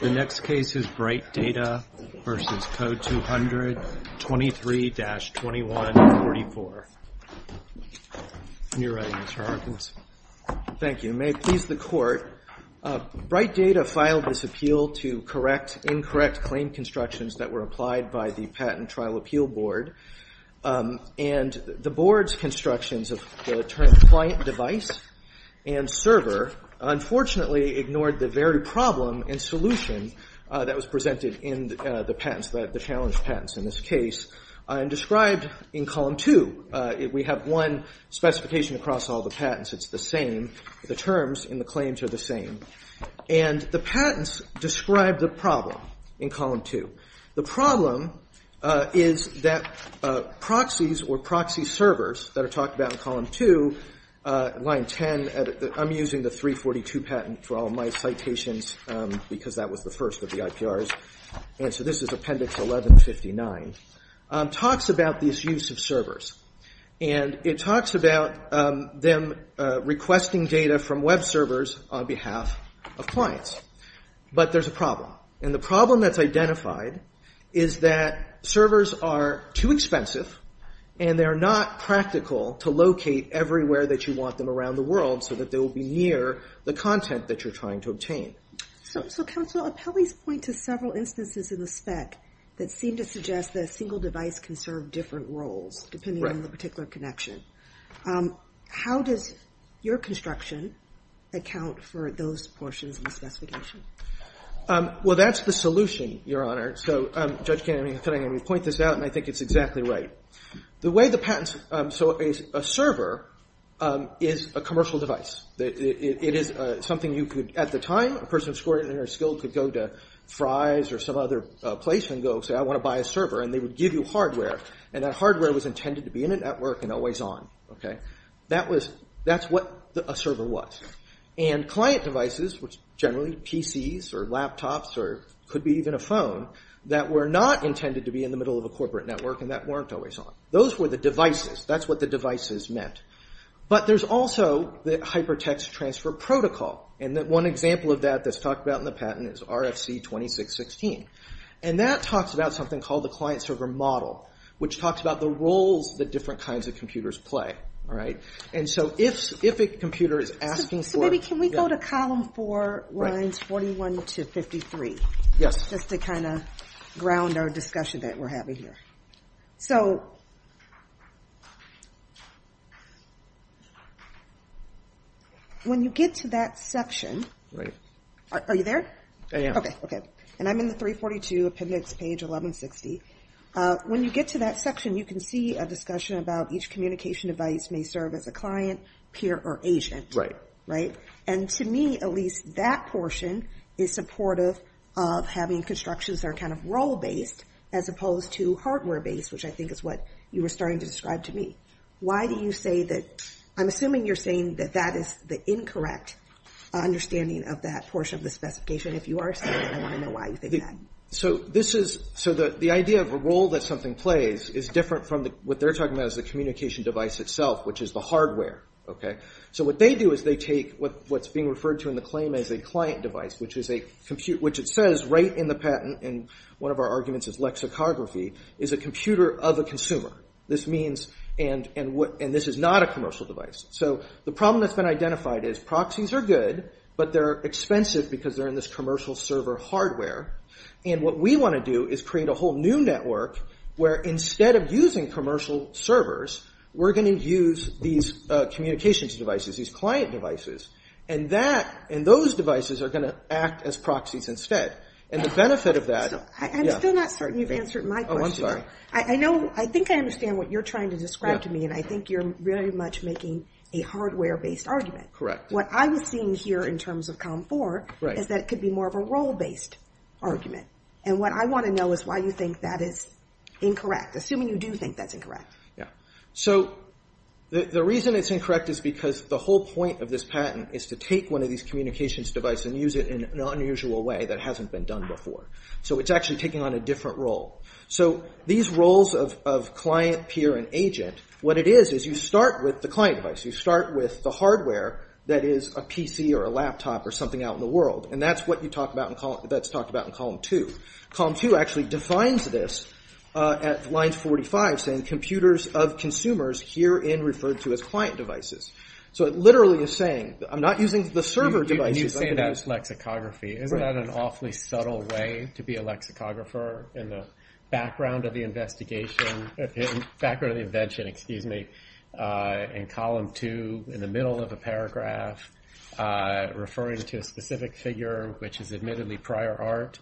The next case is Bright Data v. Code200, 23-2144. When you're ready, Mr. Harkins. Thank you. May it please the Court, Bright Data filed this appeal to correct incorrect claim constructions that were applied by the Patent Trial Appeal Board and the Board's constructions of the term client device and server unfortunately ignored the very problem and solution that was presented in the challenged patents in this case and described in column 2. We have one specification across all the patents, it's the same. The terms in the claims are the same. And the patents describe the problem in column 2. The problem is that proxies or proxy servers that are talked about in column 2, line 10, I'm using the 342 patent for all my citations because that was the first of the IPRs, and so this is appendix 11-59, talks about this use of servers. And it talks about them requesting data from web servers on behalf of clients. But there's a problem. And the problem that's identified is that servers are too expensive and they're not practical to locate everywhere that you want them around the world so that they will be near the content that you're trying to obtain. So, Counsel, appellees point to several instances in the spec that seem to suggest that a single device can serve different roles depending on the particular connection. How does your construction account for those portions of the specification? Well, that's the solution, Your Honor. So, Judge Kennedy, I'm going to point this out, and I think it's exactly right. The way the patents, so a server is a commercial device. It is something you could, at the time, a person who scored it in their skill could go to Fry's or some other place and go say, I want to buy a server, and they would give you hardware. And that hardware was intended to be in a network and always on. That's what a server was. And client devices, which generally PCs or laptops or could be even a phone, that were not intended to be in the middle of a corporate network and that weren't always on. Those were the devices. That's what the devices meant. But there's also the hypertext transfer protocol. And one example of that that's talked about in the patent is RFC 2616. And that talks about something called the client-server model, which talks about the roles that different kinds of computers play. And so if a computer is asking for... So maybe can we go to column four, lines 41 to 53? Yes. Just to kind of ground our discussion that we're having here. When you get to that section... Are you there? I am. Okay. And I'm in the 342, appendix page 1160. When you get to that section, you can see a discussion about each communication device may serve as a client, peer or agent. Right. Right? And to me, at least that portion is supportive of having constructions that are kind of role-based as opposed to hardware-based, which I think is what you were starting to describe to me. Why do you say that... I'm assuming you're saying that that is the incorrect understanding of that portion of the specification. If you are saying that, I want to know why you think that. So the idea of a role that something plays is different from what they're talking about as the communication device itself, which is the hardware. So what they do is they take what's being referred to in the claim as a client device, which it says right in the patent, and one of our arguments is lexicography, is a computer of a consumer. This means... And this is not a commercial device. So the problem that's been identified is proxies are good, but they're expensive because they're in this commercial server hardware. And what we want to do is create a whole new network where instead of using commercial servers, we're going to use these communications devices, these client devices. And those devices are going to act as proxies instead. And the benefit of that... I'm still not certain you've answered my question. I think I understand what you're trying to describe to me, and I think you're very much making a hardware-based argument. Correct. What I was seeing here in terms of COM4 is that it could be more of a role-based. And what I want to know is why you think that is incorrect, assuming you do think that's incorrect. So the reason it's incorrect is because the whole point of this patent is to take one of these communications devices and use it in an unusual way that hasn't been done before. So it's actually taking on a different role. So these roles of client, peer, and agent, what it is is you start with the client device. You start with the hardware that is a PC or a laptop or something out in the world, and that's what's talked about in column 2. Column 2 actually defines this at line 45, saying, Computers of consumers herein referred to as client devices. So it literally is saying, I'm not using the server devices. You're saying that's lexicography. Isn't that an awfully subtle way to be a lexicographer in the background of the investigation? Background of the invention, excuse me. In column 2, in the middle of a paragraph, referring to a specific figure, which is admittedly prior art,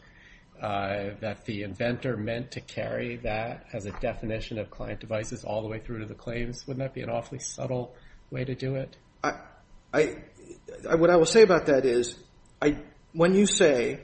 that the inventor meant to carry that as a definition of client devices all the way through to the claims. Wouldn't that be an awfully subtle way to do it? What I will say about that is, when you say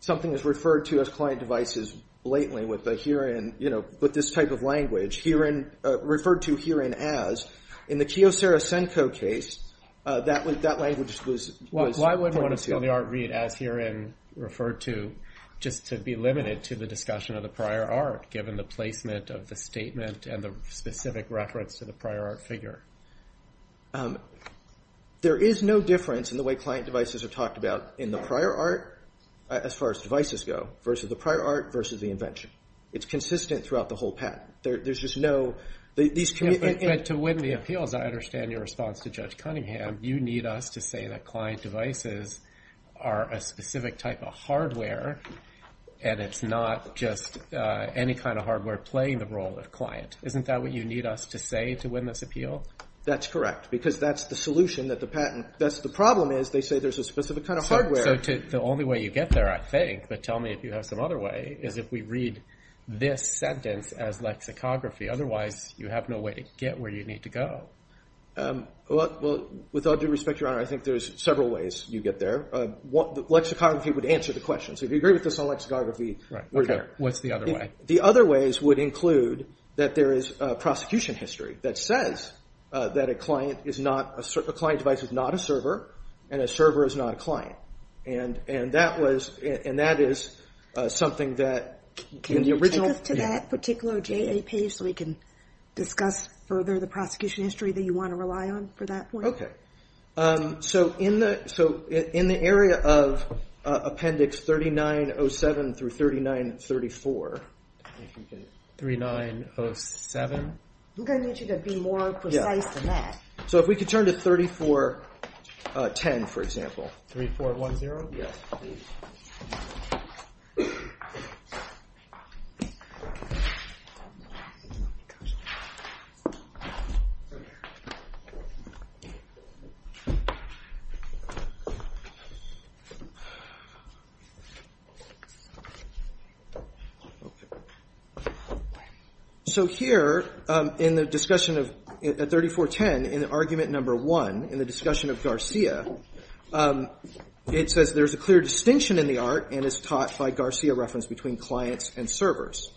something is referred to as client devices blatantly with this type of language, referred to herein as, in the Kyocera Senko case, that language was pointed to. Why wouldn't one of the art reads as herein referred to just to be limited to the discussion of the prior art, given the placement of the statement and the specific reference to the prior art figure? There is no difference in the way client devices are talked about in the prior art, as far as devices go, versus the prior art versus the invention. It's consistent throughout the whole patent. There's just no... But to win the appeals, I understand your response to Judge Cunningham. You need us to say that client devices are a specific type of hardware, and it's not just any kind of hardware playing the role of client. Isn't that what you need us to say to win this appeal? That's correct, because that's the solution that the patent... The problem is they say there's a specific kind of hardware. So the only way you get there, I think, but tell me if you have some other way, is if we read this sentence as lexicography. Otherwise, you have no way to get where you need to go. Well, with all due respect, Your Honor, I think there's several ways you get there. Lexicography would answer the question. So if you agree with this on lexicography... What's the other way? The other ways would include that there is prosecution history that says that a client device is not a server, and a server is not a client. And that is something that... Can you take us to that particular JAP so we can discuss further the prosecution history that you want to rely on for that point? So in the area of Appendix 3907 through 3934... 3907? I'm going to need you to be more precise than that. So if we could turn to 3410, for example. 3410? Yes, please. Oh, my gosh. So here, in the discussion of 3410, in Argument No. 1, in the discussion of Garcia, it says there's a clear distinction in the art and is taught by Garcia reference between clients and servers.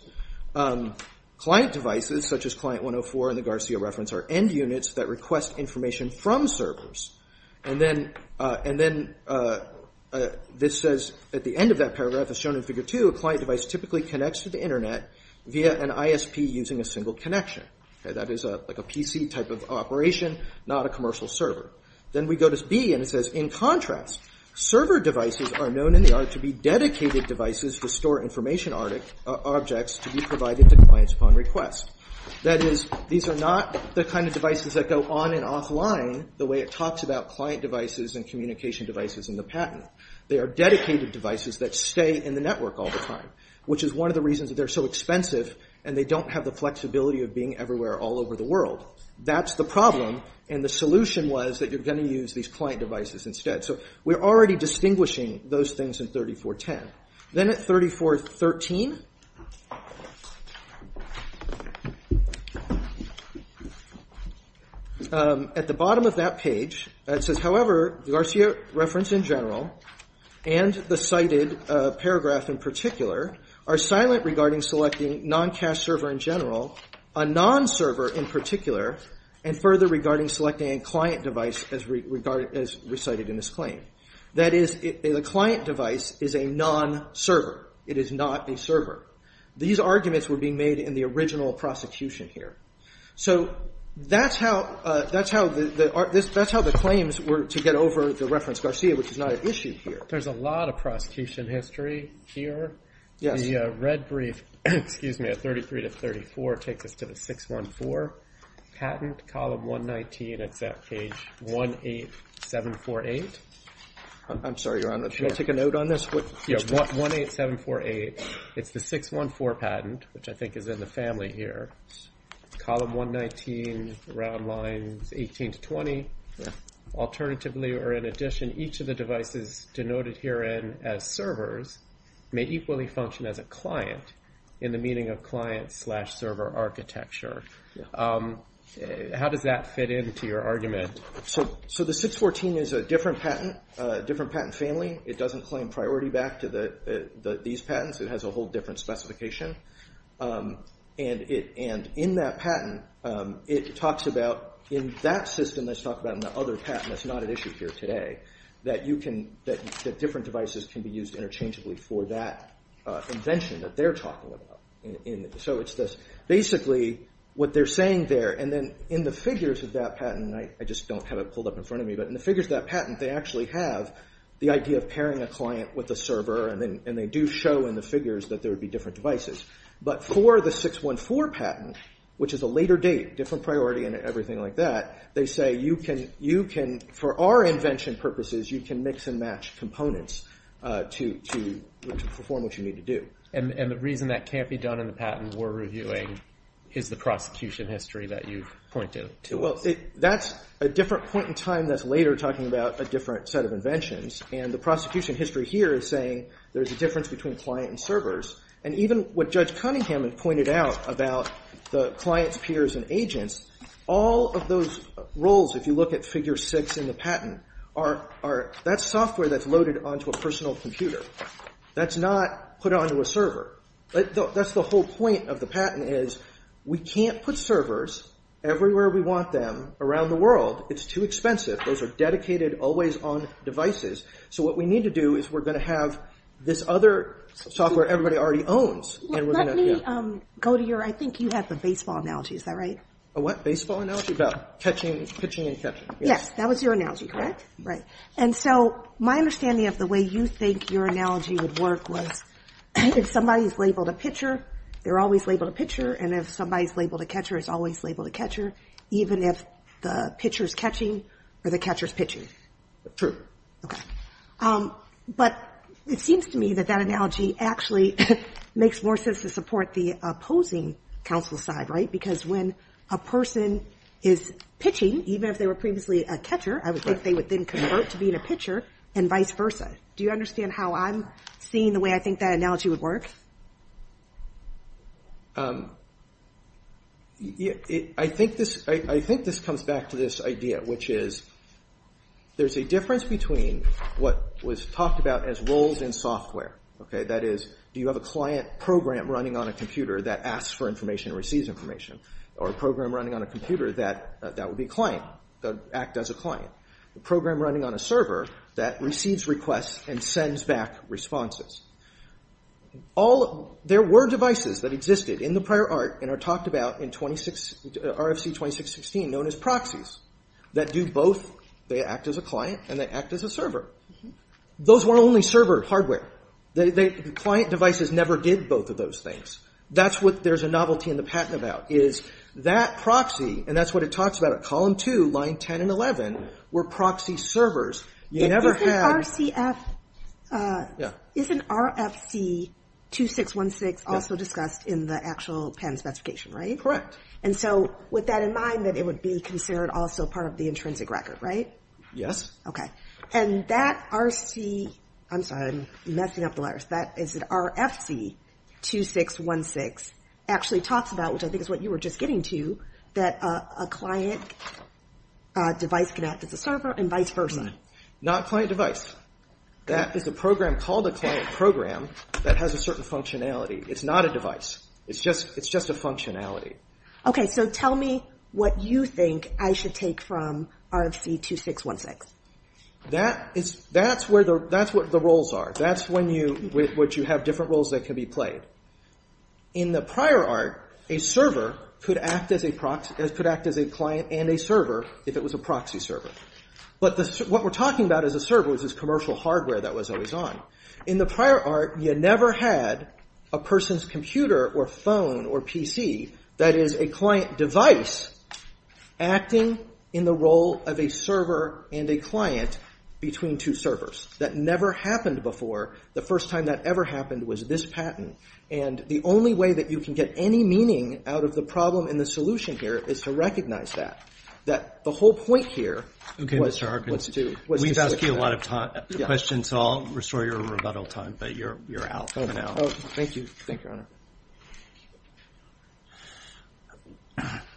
Client devices, such as Client 104 in the Garcia reference, are end units that request information from servers. And then this says, at the end of that paragraph, as shown in Figure 2, a client device typically connects to the Internet via an ISP using a single connection. That is like a PC type of operation, not a commercial server. Then we go to B, and it says, in contrast, server devices are known in the art to be dedicated devices to store information and objects to be provided to clients upon request. That is, these are not the kind of devices that go on and offline the way it talks about client devices and communication devices in the patent. They are dedicated devices that stay in the network all the time, which is one of the reasons that they're so expensive and they don't have the flexibility of being everywhere all over the world. That's the problem, and the solution was that you're going to use these client devices instead. So we're already distinguishing those things in 3410. Then at 3413, at the bottom of that page, it says, however, the Garcia reference in general and the cited paragraph in particular are silent regarding selecting non-cache server in general, a non-server in particular, and further regarding selecting a client device as recited in this claim. That is, the client device is a non-server. It is not a server. These arguments were being made in the original prosecution here. So that's how the claims were to get over the reference Garcia, which is not an issue here. There's a lot of prosecution history here. The red brief at 33 to 34 takes us to the 614 patent, column 119, it's at page 18748. Can I take a note on this? Yeah, 18748. It's the 614 patent, which I think is in the family here. Column 119, round lines 18 to 20. Alternatively or in addition, each of the devices denoted herein as servers may equally function as a client in the meaning of client slash server architecture. How does that fit into your argument? So the 614 is a different patent, different patent family. It doesn't claim priority back to these patents. It has a whole different specification. And in that patent, it talks about, in that system that's talked about in the other patent that's not at issue here today, that different devices can be used interchangeably for that invention that they're talking about. Basically, what they're saying there, and then in the figures of that patent, and I just don't have it pulled up in front of me, but in the figures of that patent, they actually have the idea of pairing a client with a server, and they do show in the figures that there would be different devices. But for the 614 patent, which is a later date, different priority and everything like that, they say you can, for our invention purposes, you can mix and match components to perform what you need to do. And the reason that can't be done in the patent we're reviewing is the prosecution history that you've pointed to. Well, that's a different point in time that's later talking about a different set of inventions. And the prosecution history here is saying there's a difference between client and servers. And even what Judge Cunningham had pointed out about the clients, peers, and agents, all of those roles, if you look at figure six in the patent, that's software that's loaded onto a personal computer. That's not put onto a server. That's the whole point of the patent, is we can't put servers everywhere we want them around the world. It's too expensive. Those are dedicated, always-on devices. So what we need to do is we're going to have this other software everybody already owns. Let me go to your, I think you have the baseball analogy. Is that right? A what? Baseball analogy? About catching, pitching, and catching. Yes, that was your analogy, correct? Right. And so my understanding of the way you think your analogy would work was if somebody's labeled a pitcher, they're always labeled a pitcher, and if somebody's labeled a catcher, it's always labeled a catcher, even if the pitcher's catching or the catcher's pitching. True. Okay. But it seems to me that that analogy actually makes more sense to support the opposing counsel side, right? Because when a person is pitching, even if they were previously a catcher, I would think they would then convert to being a pitcher and vice versa. Do you understand how I'm seeing the way I think that analogy would work? I think this comes back to this idea, which is there's a difference between what was talked about as roles in software. That is, do you have a client program running on a computer that asks for information and receives information? Or a program running on a computer that would be a client, that would act as a client? A program running on a server that receives requests and sends back responses? There were devices that existed in the prior art and are talked about in RFC 2616 known as proxies that do both. They act as a client and they act as a server. Those were only server hardware. Client devices never did both of those things. That's what there's a novelty in the patent about is that proxy, and that's what it talks about at column 2, line 10 and 11, were proxy servers. Isn't RFC 2616 also discussed in the actual patent specification, right? Correct. And so with that in mind, that it would be considered also part of the intrinsic record, right? Yes. And that RFC... I'm sorry, I'm messing up the letters. That RFC 2616 actually talks about, which I think is what you were just getting to, that a client device could act as a server and vice versa. Not client device. That is a program called a client program that has a certain functionality. It's not a device. It's just a functionality. Okay, so tell me what you think I should take from RFC 2616. That's what the roles are. That's when you have different roles that can be played. In the prior art, a server could act as a client and a server if it was a proxy server. But what we're talking about as a server is this commercial hardware that was always on. In the prior art, you never had a person's computer or phone or PC that is a client device acting in the role of a server and a client between two servers. That never happened before. The first time that ever happened was this patent. And the only way that you can get any meaning out of the problem and the solution here is to recognize that. That the whole point here was to... Okay, Mr. Harkin. We've asked you a lot of questions, so I'll restore your rebuttal time, but you're out for now. Oh, thank you. Thank you, Your Honor.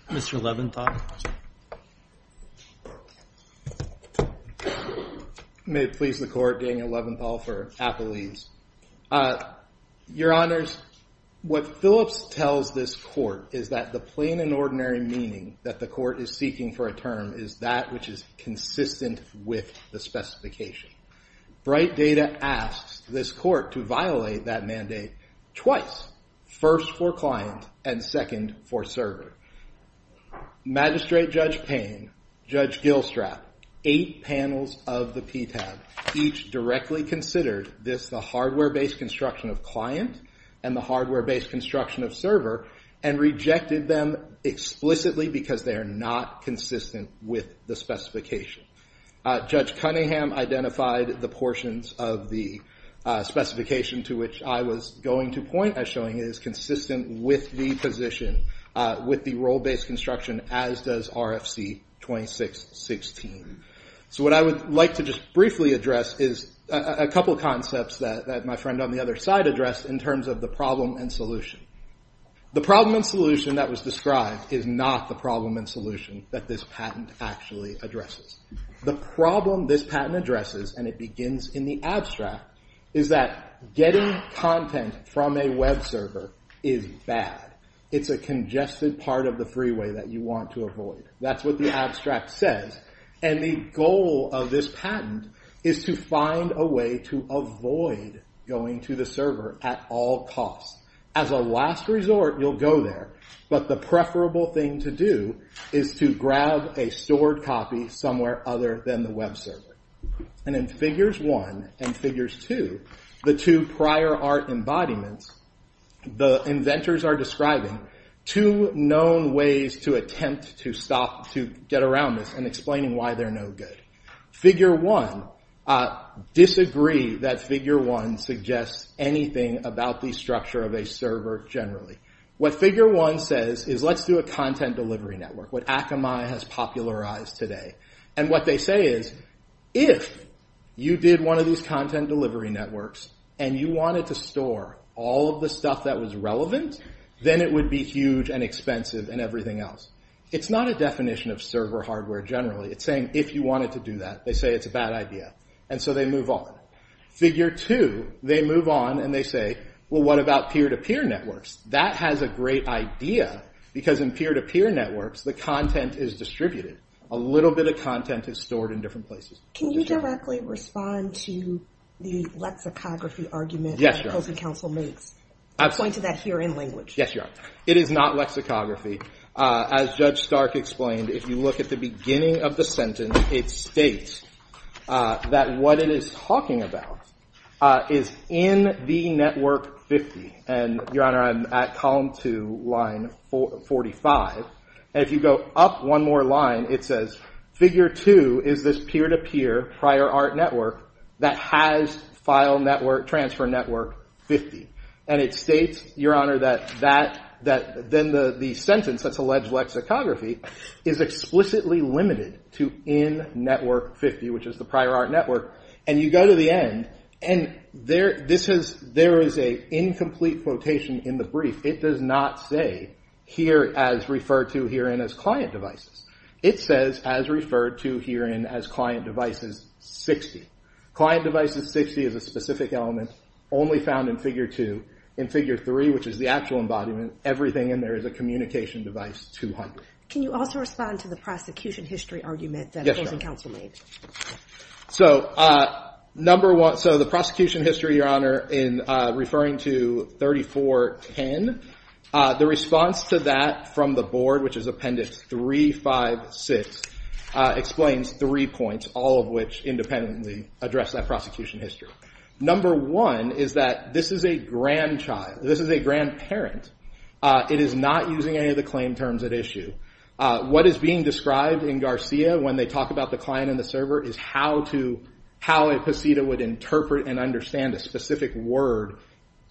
Mr. Leventhal. May it please the Court, Daniel Leventhal for Apple East. Your Honors, what Phillips tells this Court is that the plain and ordinary meaning that the Court is seeking for a term is that which is consistent with the specification. Bright Data asks this Court to violate that mandate twice, first for client and second for server. Magistrate Judge Payne, Judge Gilstrap, eight panels of the PTAB, each directly considered this, the hardware-based construction of client and the hardware-based construction of server, and rejected them explicitly because they are not consistent with the specification. Judge Cunningham identified the portions of the specification to which I was going to point as showing it is consistent with the position, with the role-based construction, as does RFC 2616. So what I would like to just briefly address is a couple of concepts that my friend on the other side addressed in terms of the problem and solution. The problem and solution that was described is not the problem and solution that this patent actually addresses. The problem this patent addresses, and it begins in the abstract, is that getting content from a web server is bad. It's a congested part of the freeway that you want to avoid. That's what the abstract says. And the goal of this patent is to find a way to avoid going to the server at all costs. As a last resort, you'll go there, but the preferable thing to do is to grab a stored copy somewhere other than the web server. And in figures one and figures two, the two prior art embodiments, the inventors are describing two known ways to attempt to stop, to get around this, and explaining why they're no good. Figure one, disagree that figure one suggests anything about the structure of a server generally. What figure one says is, let's do a content delivery network, what Akamai has popularized today. And what they say is, if you did one of these content delivery networks and you wanted to store all of the stuff that was relevant, then it would be huge and expensive and everything else. It's not a definition of server hardware generally. It's saying, if you wanted to do that, they say it's a bad idea. And so they move on. Figure two, they move on and they say, well, what about peer-to-peer networks? That has a great idea because in peer-to-peer networks, the content is distributed. A little bit of content is stored in different places. Can you directly respond to the lexicography argument that the Housing Council makes? Yes, you are. I'm pointing to that here in language. Yes, you are. It is not lexicography. As Judge Stark explained, if you look at the beginning of the sentence, it states that what it is talking about is in the network 50. And, Your Honor, I'm at column two, line 45. And if you go up one more line, it says, figure two is this peer-to-peer prior art network that has file network, transfer network 50. And it states, Your Honor, that then the sentence, that's alleged lexicography, is explicitly limited to in network 50, which is the prior art network. And you go to the end, and there is an incomplete quotation in the brief. It does not say, here as referred to herein as client devices. It says, as referred to herein as client devices 60. Client devices 60 is a specific element only found in figure two. In figure three, which is the actual embodiment, everything in there is a communication device 200. Can you also respond to the prosecution history argument that opposing counsel made? So, number one, so the prosecution history, in referring to 3410, the response to that from the board, which is appendix 356, explains three points, all of which independently address that prosecution history. Number one is that this is a grandchild. This is a grandparent. It is not using any of the claim terms at issue. What is being described in Garcia when they talk about the client and the server is how a poseda would interpret and understand a specific word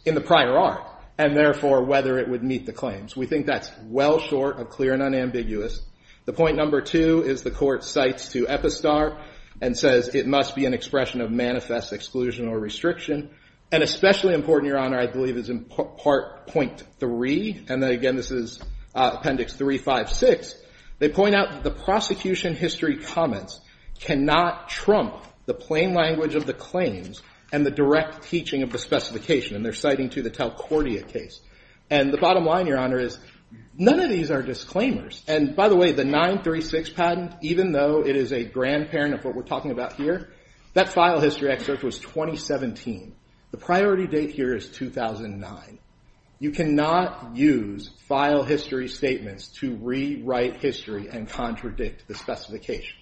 in the prior art, and therefore whether it would meet the claims. We think that's well short of clear and unambiguous. The point number two is the court cites to Epistar and says it must be an expression of manifest exclusion or restriction. And especially important, Your Honor, I believe is in part .3. And then again, this is appendix 356. They point out that the prosecution history comments cannot trump the plain language of the claims and the direct teaching of the specification. And they're citing to the Talcordia case. And the bottom line, Your Honor, is none of these are disclaimers. And by the way, the 936 patent, even though it is a grandparent of what we're talking about here, that file history excerpt was 2017. The priority date here is 2009. You cannot use file history statements to rewrite history and contradict the specification.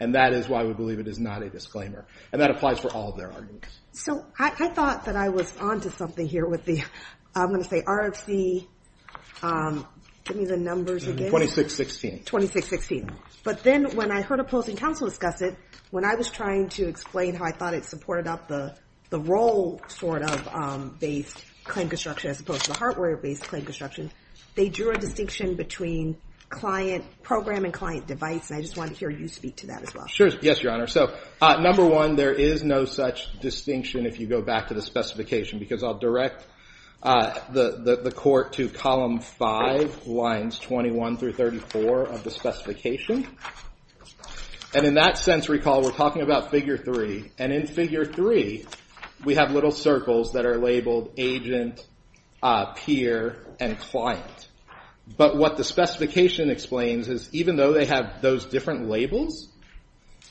And that is why we believe it is not a disclaimer. And that applies for all of their arguments. So I thought that I was onto something here with the, I'm gonna say RFC, give me the numbers again. 2616. 2616. But then when I heard opposing counsel discuss it, when I was trying to explain how I thought it supported up the role sort of based claim construction as opposed to the hardware based claim construction, they drew a distinction between client, program and client device. And I just wanted to hear you speak to that as well. Sure, yes, Your Honor. So number one, there is no such distinction if you go back to the specification, because I'll direct the court to column five, lines 21 through 34 of the specification. And in that sense, recall, we're talking about figure three. And in figure three, we have little circles that are labeled agent, peer and client. But what the specification explains is, even though they have those different labels,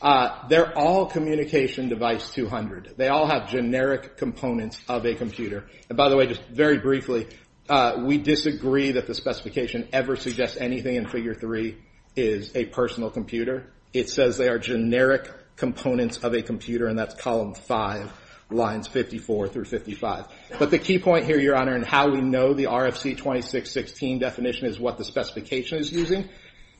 they're all communication device 200. They all have generic components of a computer. And by the way, just very briefly, we disagree that the specification ever suggests anything in figure three is a personal computer. It says they are generic components of a computer. And that's column five, lines 54 through 55. But the key point here, Your Honor, and how we know the RFC 2616 definition is what the specification is using,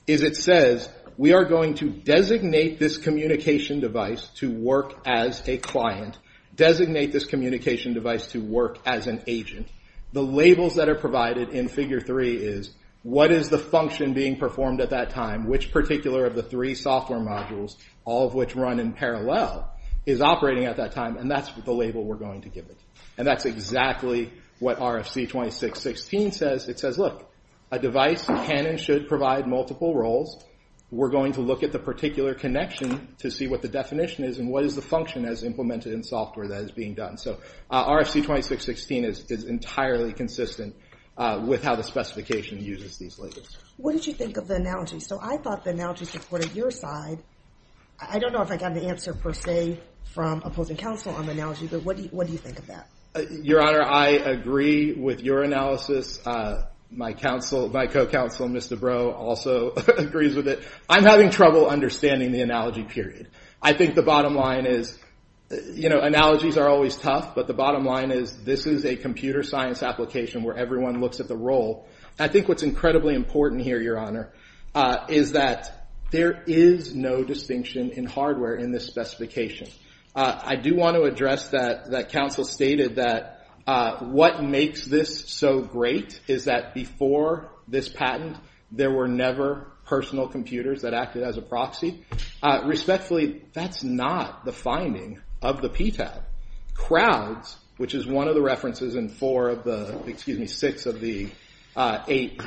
is it says we are going to designate this communication device to work as a client, designate this communication device to work as an agent. The labels that are provided in figure three is, what is the function being performed at that time? Which particular of the three software modules, all of which run in parallel, is operating at that time? And that's the label we're going to give it. And that's exactly what RFC 2616 says. It says, look, a device can and should provide multiple roles. We're going to look at the particular connection to see what the definition is, and what is the function as implemented in software that is being done. So RFC 2616 is entirely consistent with how the specification uses these labels. What did you think of the analogy? So I thought the analogy supported your side. I don't know if I got an answer per se from opposing counsel on the analogy, but what do you think of that? Your Honor, I agree with your analysis. My co-counsel, Mr. Breaux, also agrees with it. I'm having trouble understanding the analogy, period. I think the bottom line is, you know, analogies are always tough, but the bottom line is, this is a computer science application where everyone looks at the role. I think what's incredibly important here, Your Honor, is that there is no distinction in hardware in this specification. I do want to address that counsel stated that what makes this so great is that before this patent, there were never personal computers that acted as a proxy. Respectfully, that's not the finding of the PTAB. Crowds, which is one of the references in four of the, excuse me, six of the eight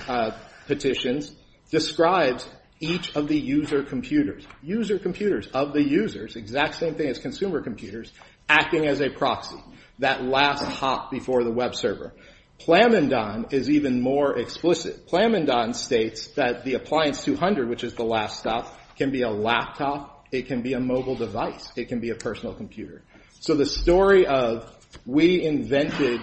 petitions, describes each of the user computers, user computers of the users, exact same thing as consumer computers, acting as a proxy, that last hop before the web server. Plamondon is even more explicit. Plamondon states that the Appliance 200, which is the last stop, can be a laptop, it can be a mobile device, it can be a personal computer. So the story of we invented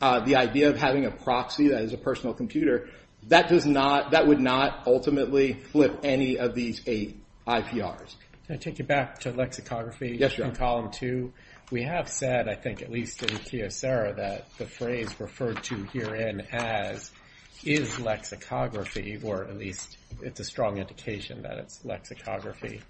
the idea of having a proxy that is a personal computer, that does not, that would not ultimately flip any of these eight IPRs. Can I take you back to lexicography? Yes, Your Honor. In column two, we have said, I think at least in Kiyosera, that the phrase referred to herein as is lexicography, or at least it's a strong indication that it's lexicography.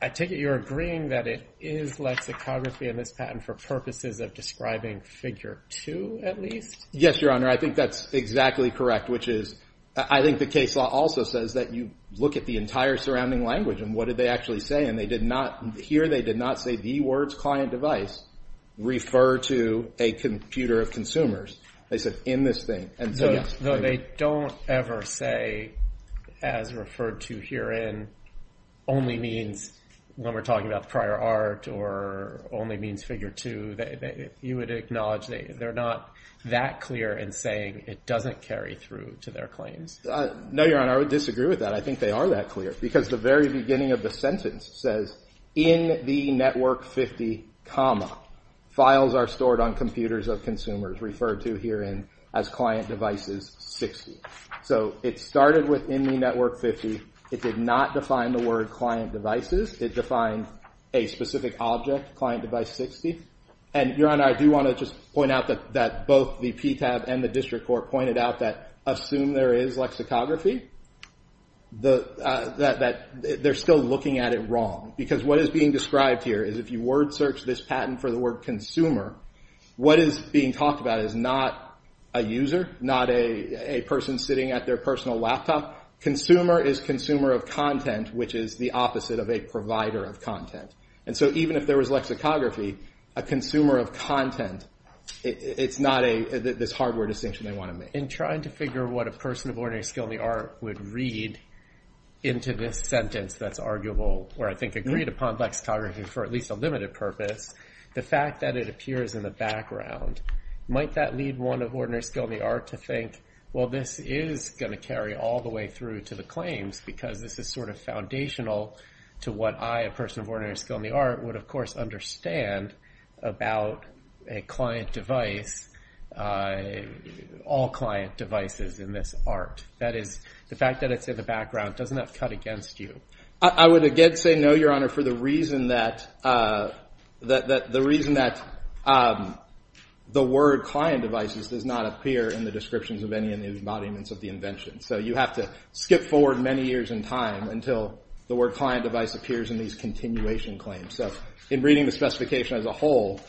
I take it you're agreeing that it is lexicography in this patent for purposes of describing figure two, at least? Yes, Your Honor, I think that's exactly correct, which is, I think the case law also says that you look at the entire surrounding language and what did they actually say, and they did not, here they did not say the words client device refer to a computer of consumers. They said in this thing. Though they don't ever say as referred to herein only means, when we're talking about prior art, or only means figure two, you would acknowledge they're not that clear in saying it doesn't carry through to their claims. No, Your Honor, I would disagree with that. I think they are that clear, because the very beginning of the sentence says, in the network 50 comma, files are stored on computers of consumers referred to herein as client devices 60. So it started with in the network 50. It did not define the word client devices. It defined a specific object, client device 60. And Your Honor, I do want to just point out that both the PTAB and the district court pointed out that assume there is lexicography, that they're still looking at it wrong. Because what is being described here is if you word search this patent for the word consumer, what is being talked about is not a user, not a person sitting at their personal laptop. Consumer is consumer of content, which is the opposite of a provider of content. And so even if there was lexicography, a consumer of content, it's not this hardware distinction they want to make. In trying to figure what a person of ordinary skill in the art would read into this sentence that's arguable, or I think agreed upon lexicography for at least a limited purpose, the fact that it appears in the background, might that lead one of ordinary skill in the art to think, well, this is going to carry all the way through to the claims because this is sort of foundational to what I, a person of ordinary skill in the art, would, of course, understand about a client device, all client devices in this art. That is, the fact that it's in the background, doesn't that cut against you? I would again say no, Your Honor, for the reason that the word client devices does not appear in the descriptions of any of the embodiments of the invention. So you have to skip forward many years in time until the word client device appears in these continuation claims. So in reading the specification as a whole,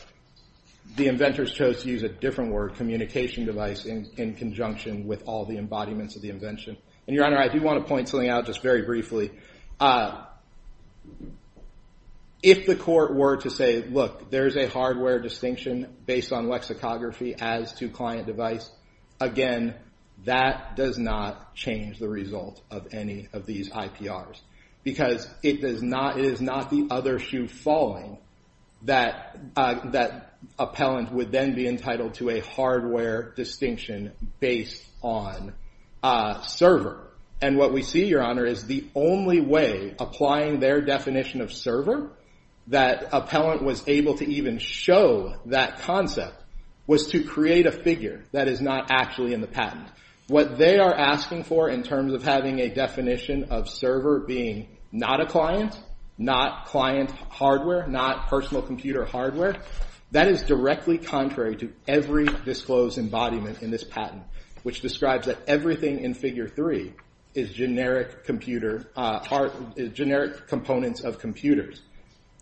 the inventors chose to use a different word, communication device, in conjunction with all the embodiments of the invention. And, Your Honor, I do want to point something out just very briefly. If the court were to say, look, there's a hardware distinction based on lexicography as to client device, again, that does not change the result of any of these IPRs because it is not the other shoe falling that appellant would then be entitled to a hardware distinction based on server. And what we see, Your Honor, is the only way applying their definition of server that appellant was able to even show that concept was to create a figure that is not actually in the patent. What they are asking for in terms of having a definition of server being not a client, not client hardware, not personal computer hardware, that is directly contrary to every disclosed embodiment in this patent, which describes that everything in Figure 3 is generic components of computers.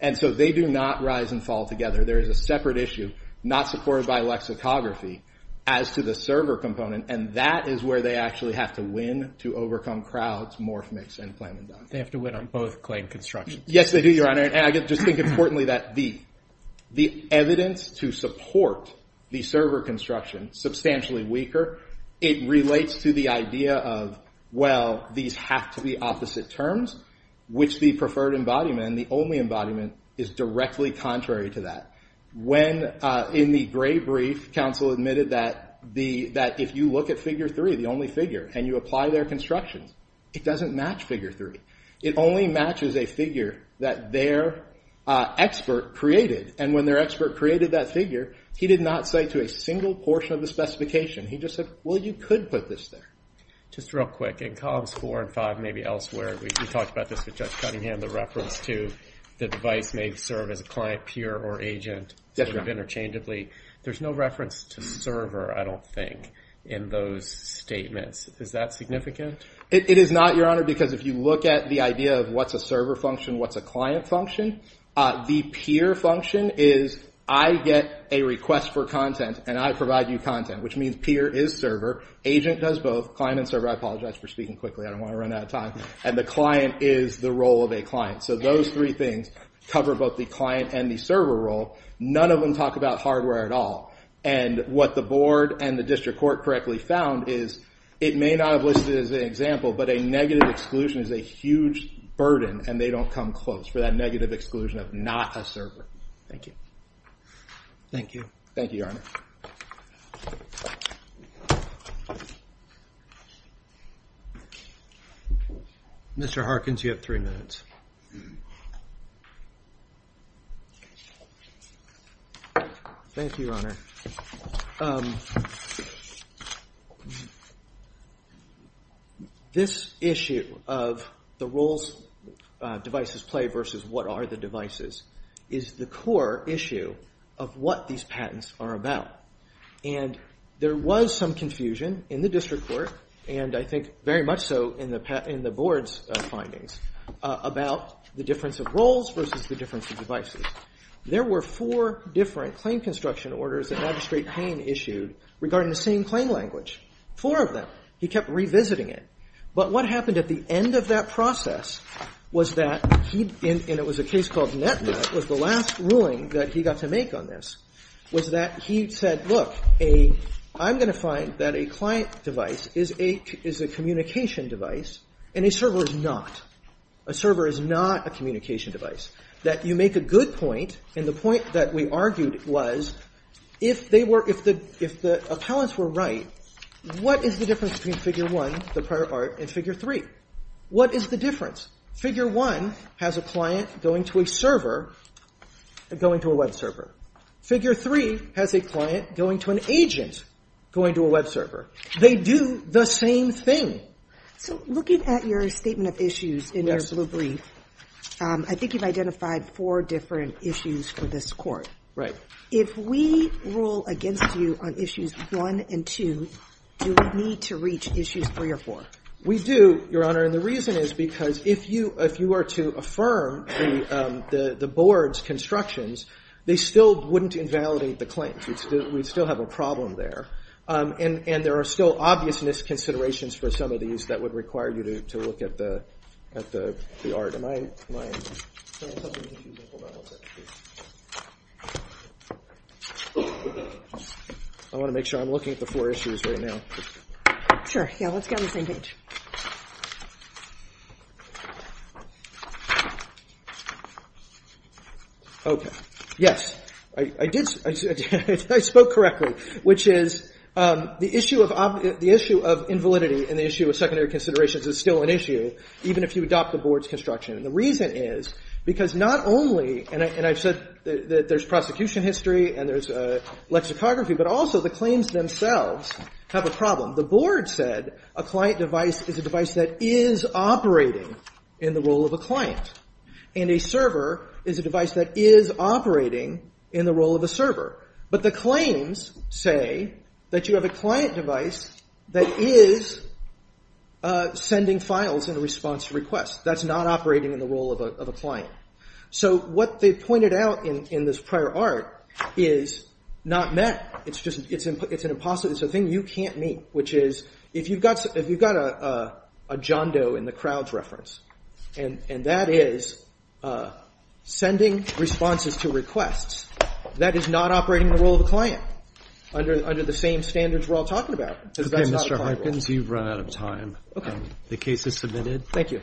And so they do not rise and fall together. There is a separate issue, not supported by lexicography, as to the server component, and that is where they actually have to win to overcome crowds, morph mix, and claim conduct. They have to win on both claim constructions. Yes, they do, Your Honor. And I just think importantly that the evidence to support the server construction is substantially weaker. It relates to the idea of, well, these have to be opposite terms, which the preferred embodiment, the only embodiment, is directly contrary to that. When in the gray brief, counsel admitted that if you look at Figure 3, the only figure, and you apply their constructions, it does not match Figure 3. It only matches a figure that their expert created. And when their expert created that figure, he did not say to a single portion of the specification. He just said, well, you could put this there. Just real quick, in columns four and five, maybe elsewhere, we talked about this with Judge Cunningham, the reference to the device may serve as a client, peer, or agent, sort of interchangeably. There's no reference to server, I don't think, in those statements. Is that significant? It is not, Your Honor, because if you look at the idea of what's a server function, what's a client function, the peer function is I get a request for content, and I provide you content, which means peer is server, agent does both, client and server, I apologize for speaking quickly, I don't want to run out of time, and the client is the role of a client. So those three things cover both the client and the server role. None of them talk about hardware at all. And what the board and the district court correctly found is it may not have listed it as an example, but a negative exclusion is a huge burden, and they don't come close for that negative exclusion of not a server. Thank you. Thank you. Thank you, Your Honor. Mr. Harkins, you have three minutes. Thank you, Your Honor. This issue of the roles devices play versus what are the devices is the core issue of what these patents are about. And there was some confusion in the district court, and I think very much so in the board's findings, about the difference of roles versus the difference of devices. There were four different claim construction orders that Magistrate Payne issued regarding the same claim language. Four of them. He kept revisiting it. But what happened at the end of that process was that he, and it was a case called NetNet, was the last ruling that he got to make on this, was that he said, look, I'm going to find that a client device is a communication device, and a server is not. A server is not a communication device. That you make a good point, and the point that we argued was, if the appellants were right, what is the difference between figure one, the prior art, and figure three? What is the difference? Figure one has a client going to a server, going to a web server. Figure three has a client going to an agent, going to a web server. They do the same thing. So looking at your statement of issues in your blue brief, I think you've identified four different issues for this Court. Right. If we rule against you on issues one and two, do we need to reach issues three or four? We do, Your Honor, and the reason is because if you are to affirm the board's constructions, they still wouldn't invalidate the claims. We'd still have a problem there, and there are still obvious misconsiderations for some of these that would require you to look at the art. Am I... I want to make sure I'm looking at the four issues right now. Sure. Yeah, let's get on the same page. Okay. Yes. I spoke correctly, which is the issue of invalidity and the issue of secondary considerations is still an issue, even if you adopt the board's construction, and the reason is because not only, and I've said that there's prosecution history and there's a lexicography, but also the claims themselves have a problem. The board said a client devised a claim that a device is a device that is operating in the role of a client and a server is a device that is operating in the role of a server, but the claims say that you have a client device that is sending files in response to requests. That's not operating in the role of a client. So what they pointed out in this prior art is not met. It's an impossibility. It's a thing you can't meet, which is if you've got a John Doe in the crowds reference and that is sending responses to requests, that is not operating in the role of a client under the same standards we're all talking about because that's not a client role. Okay, Mr. Harkins, you've run out of time. Okay. The case is submitted. Thank you.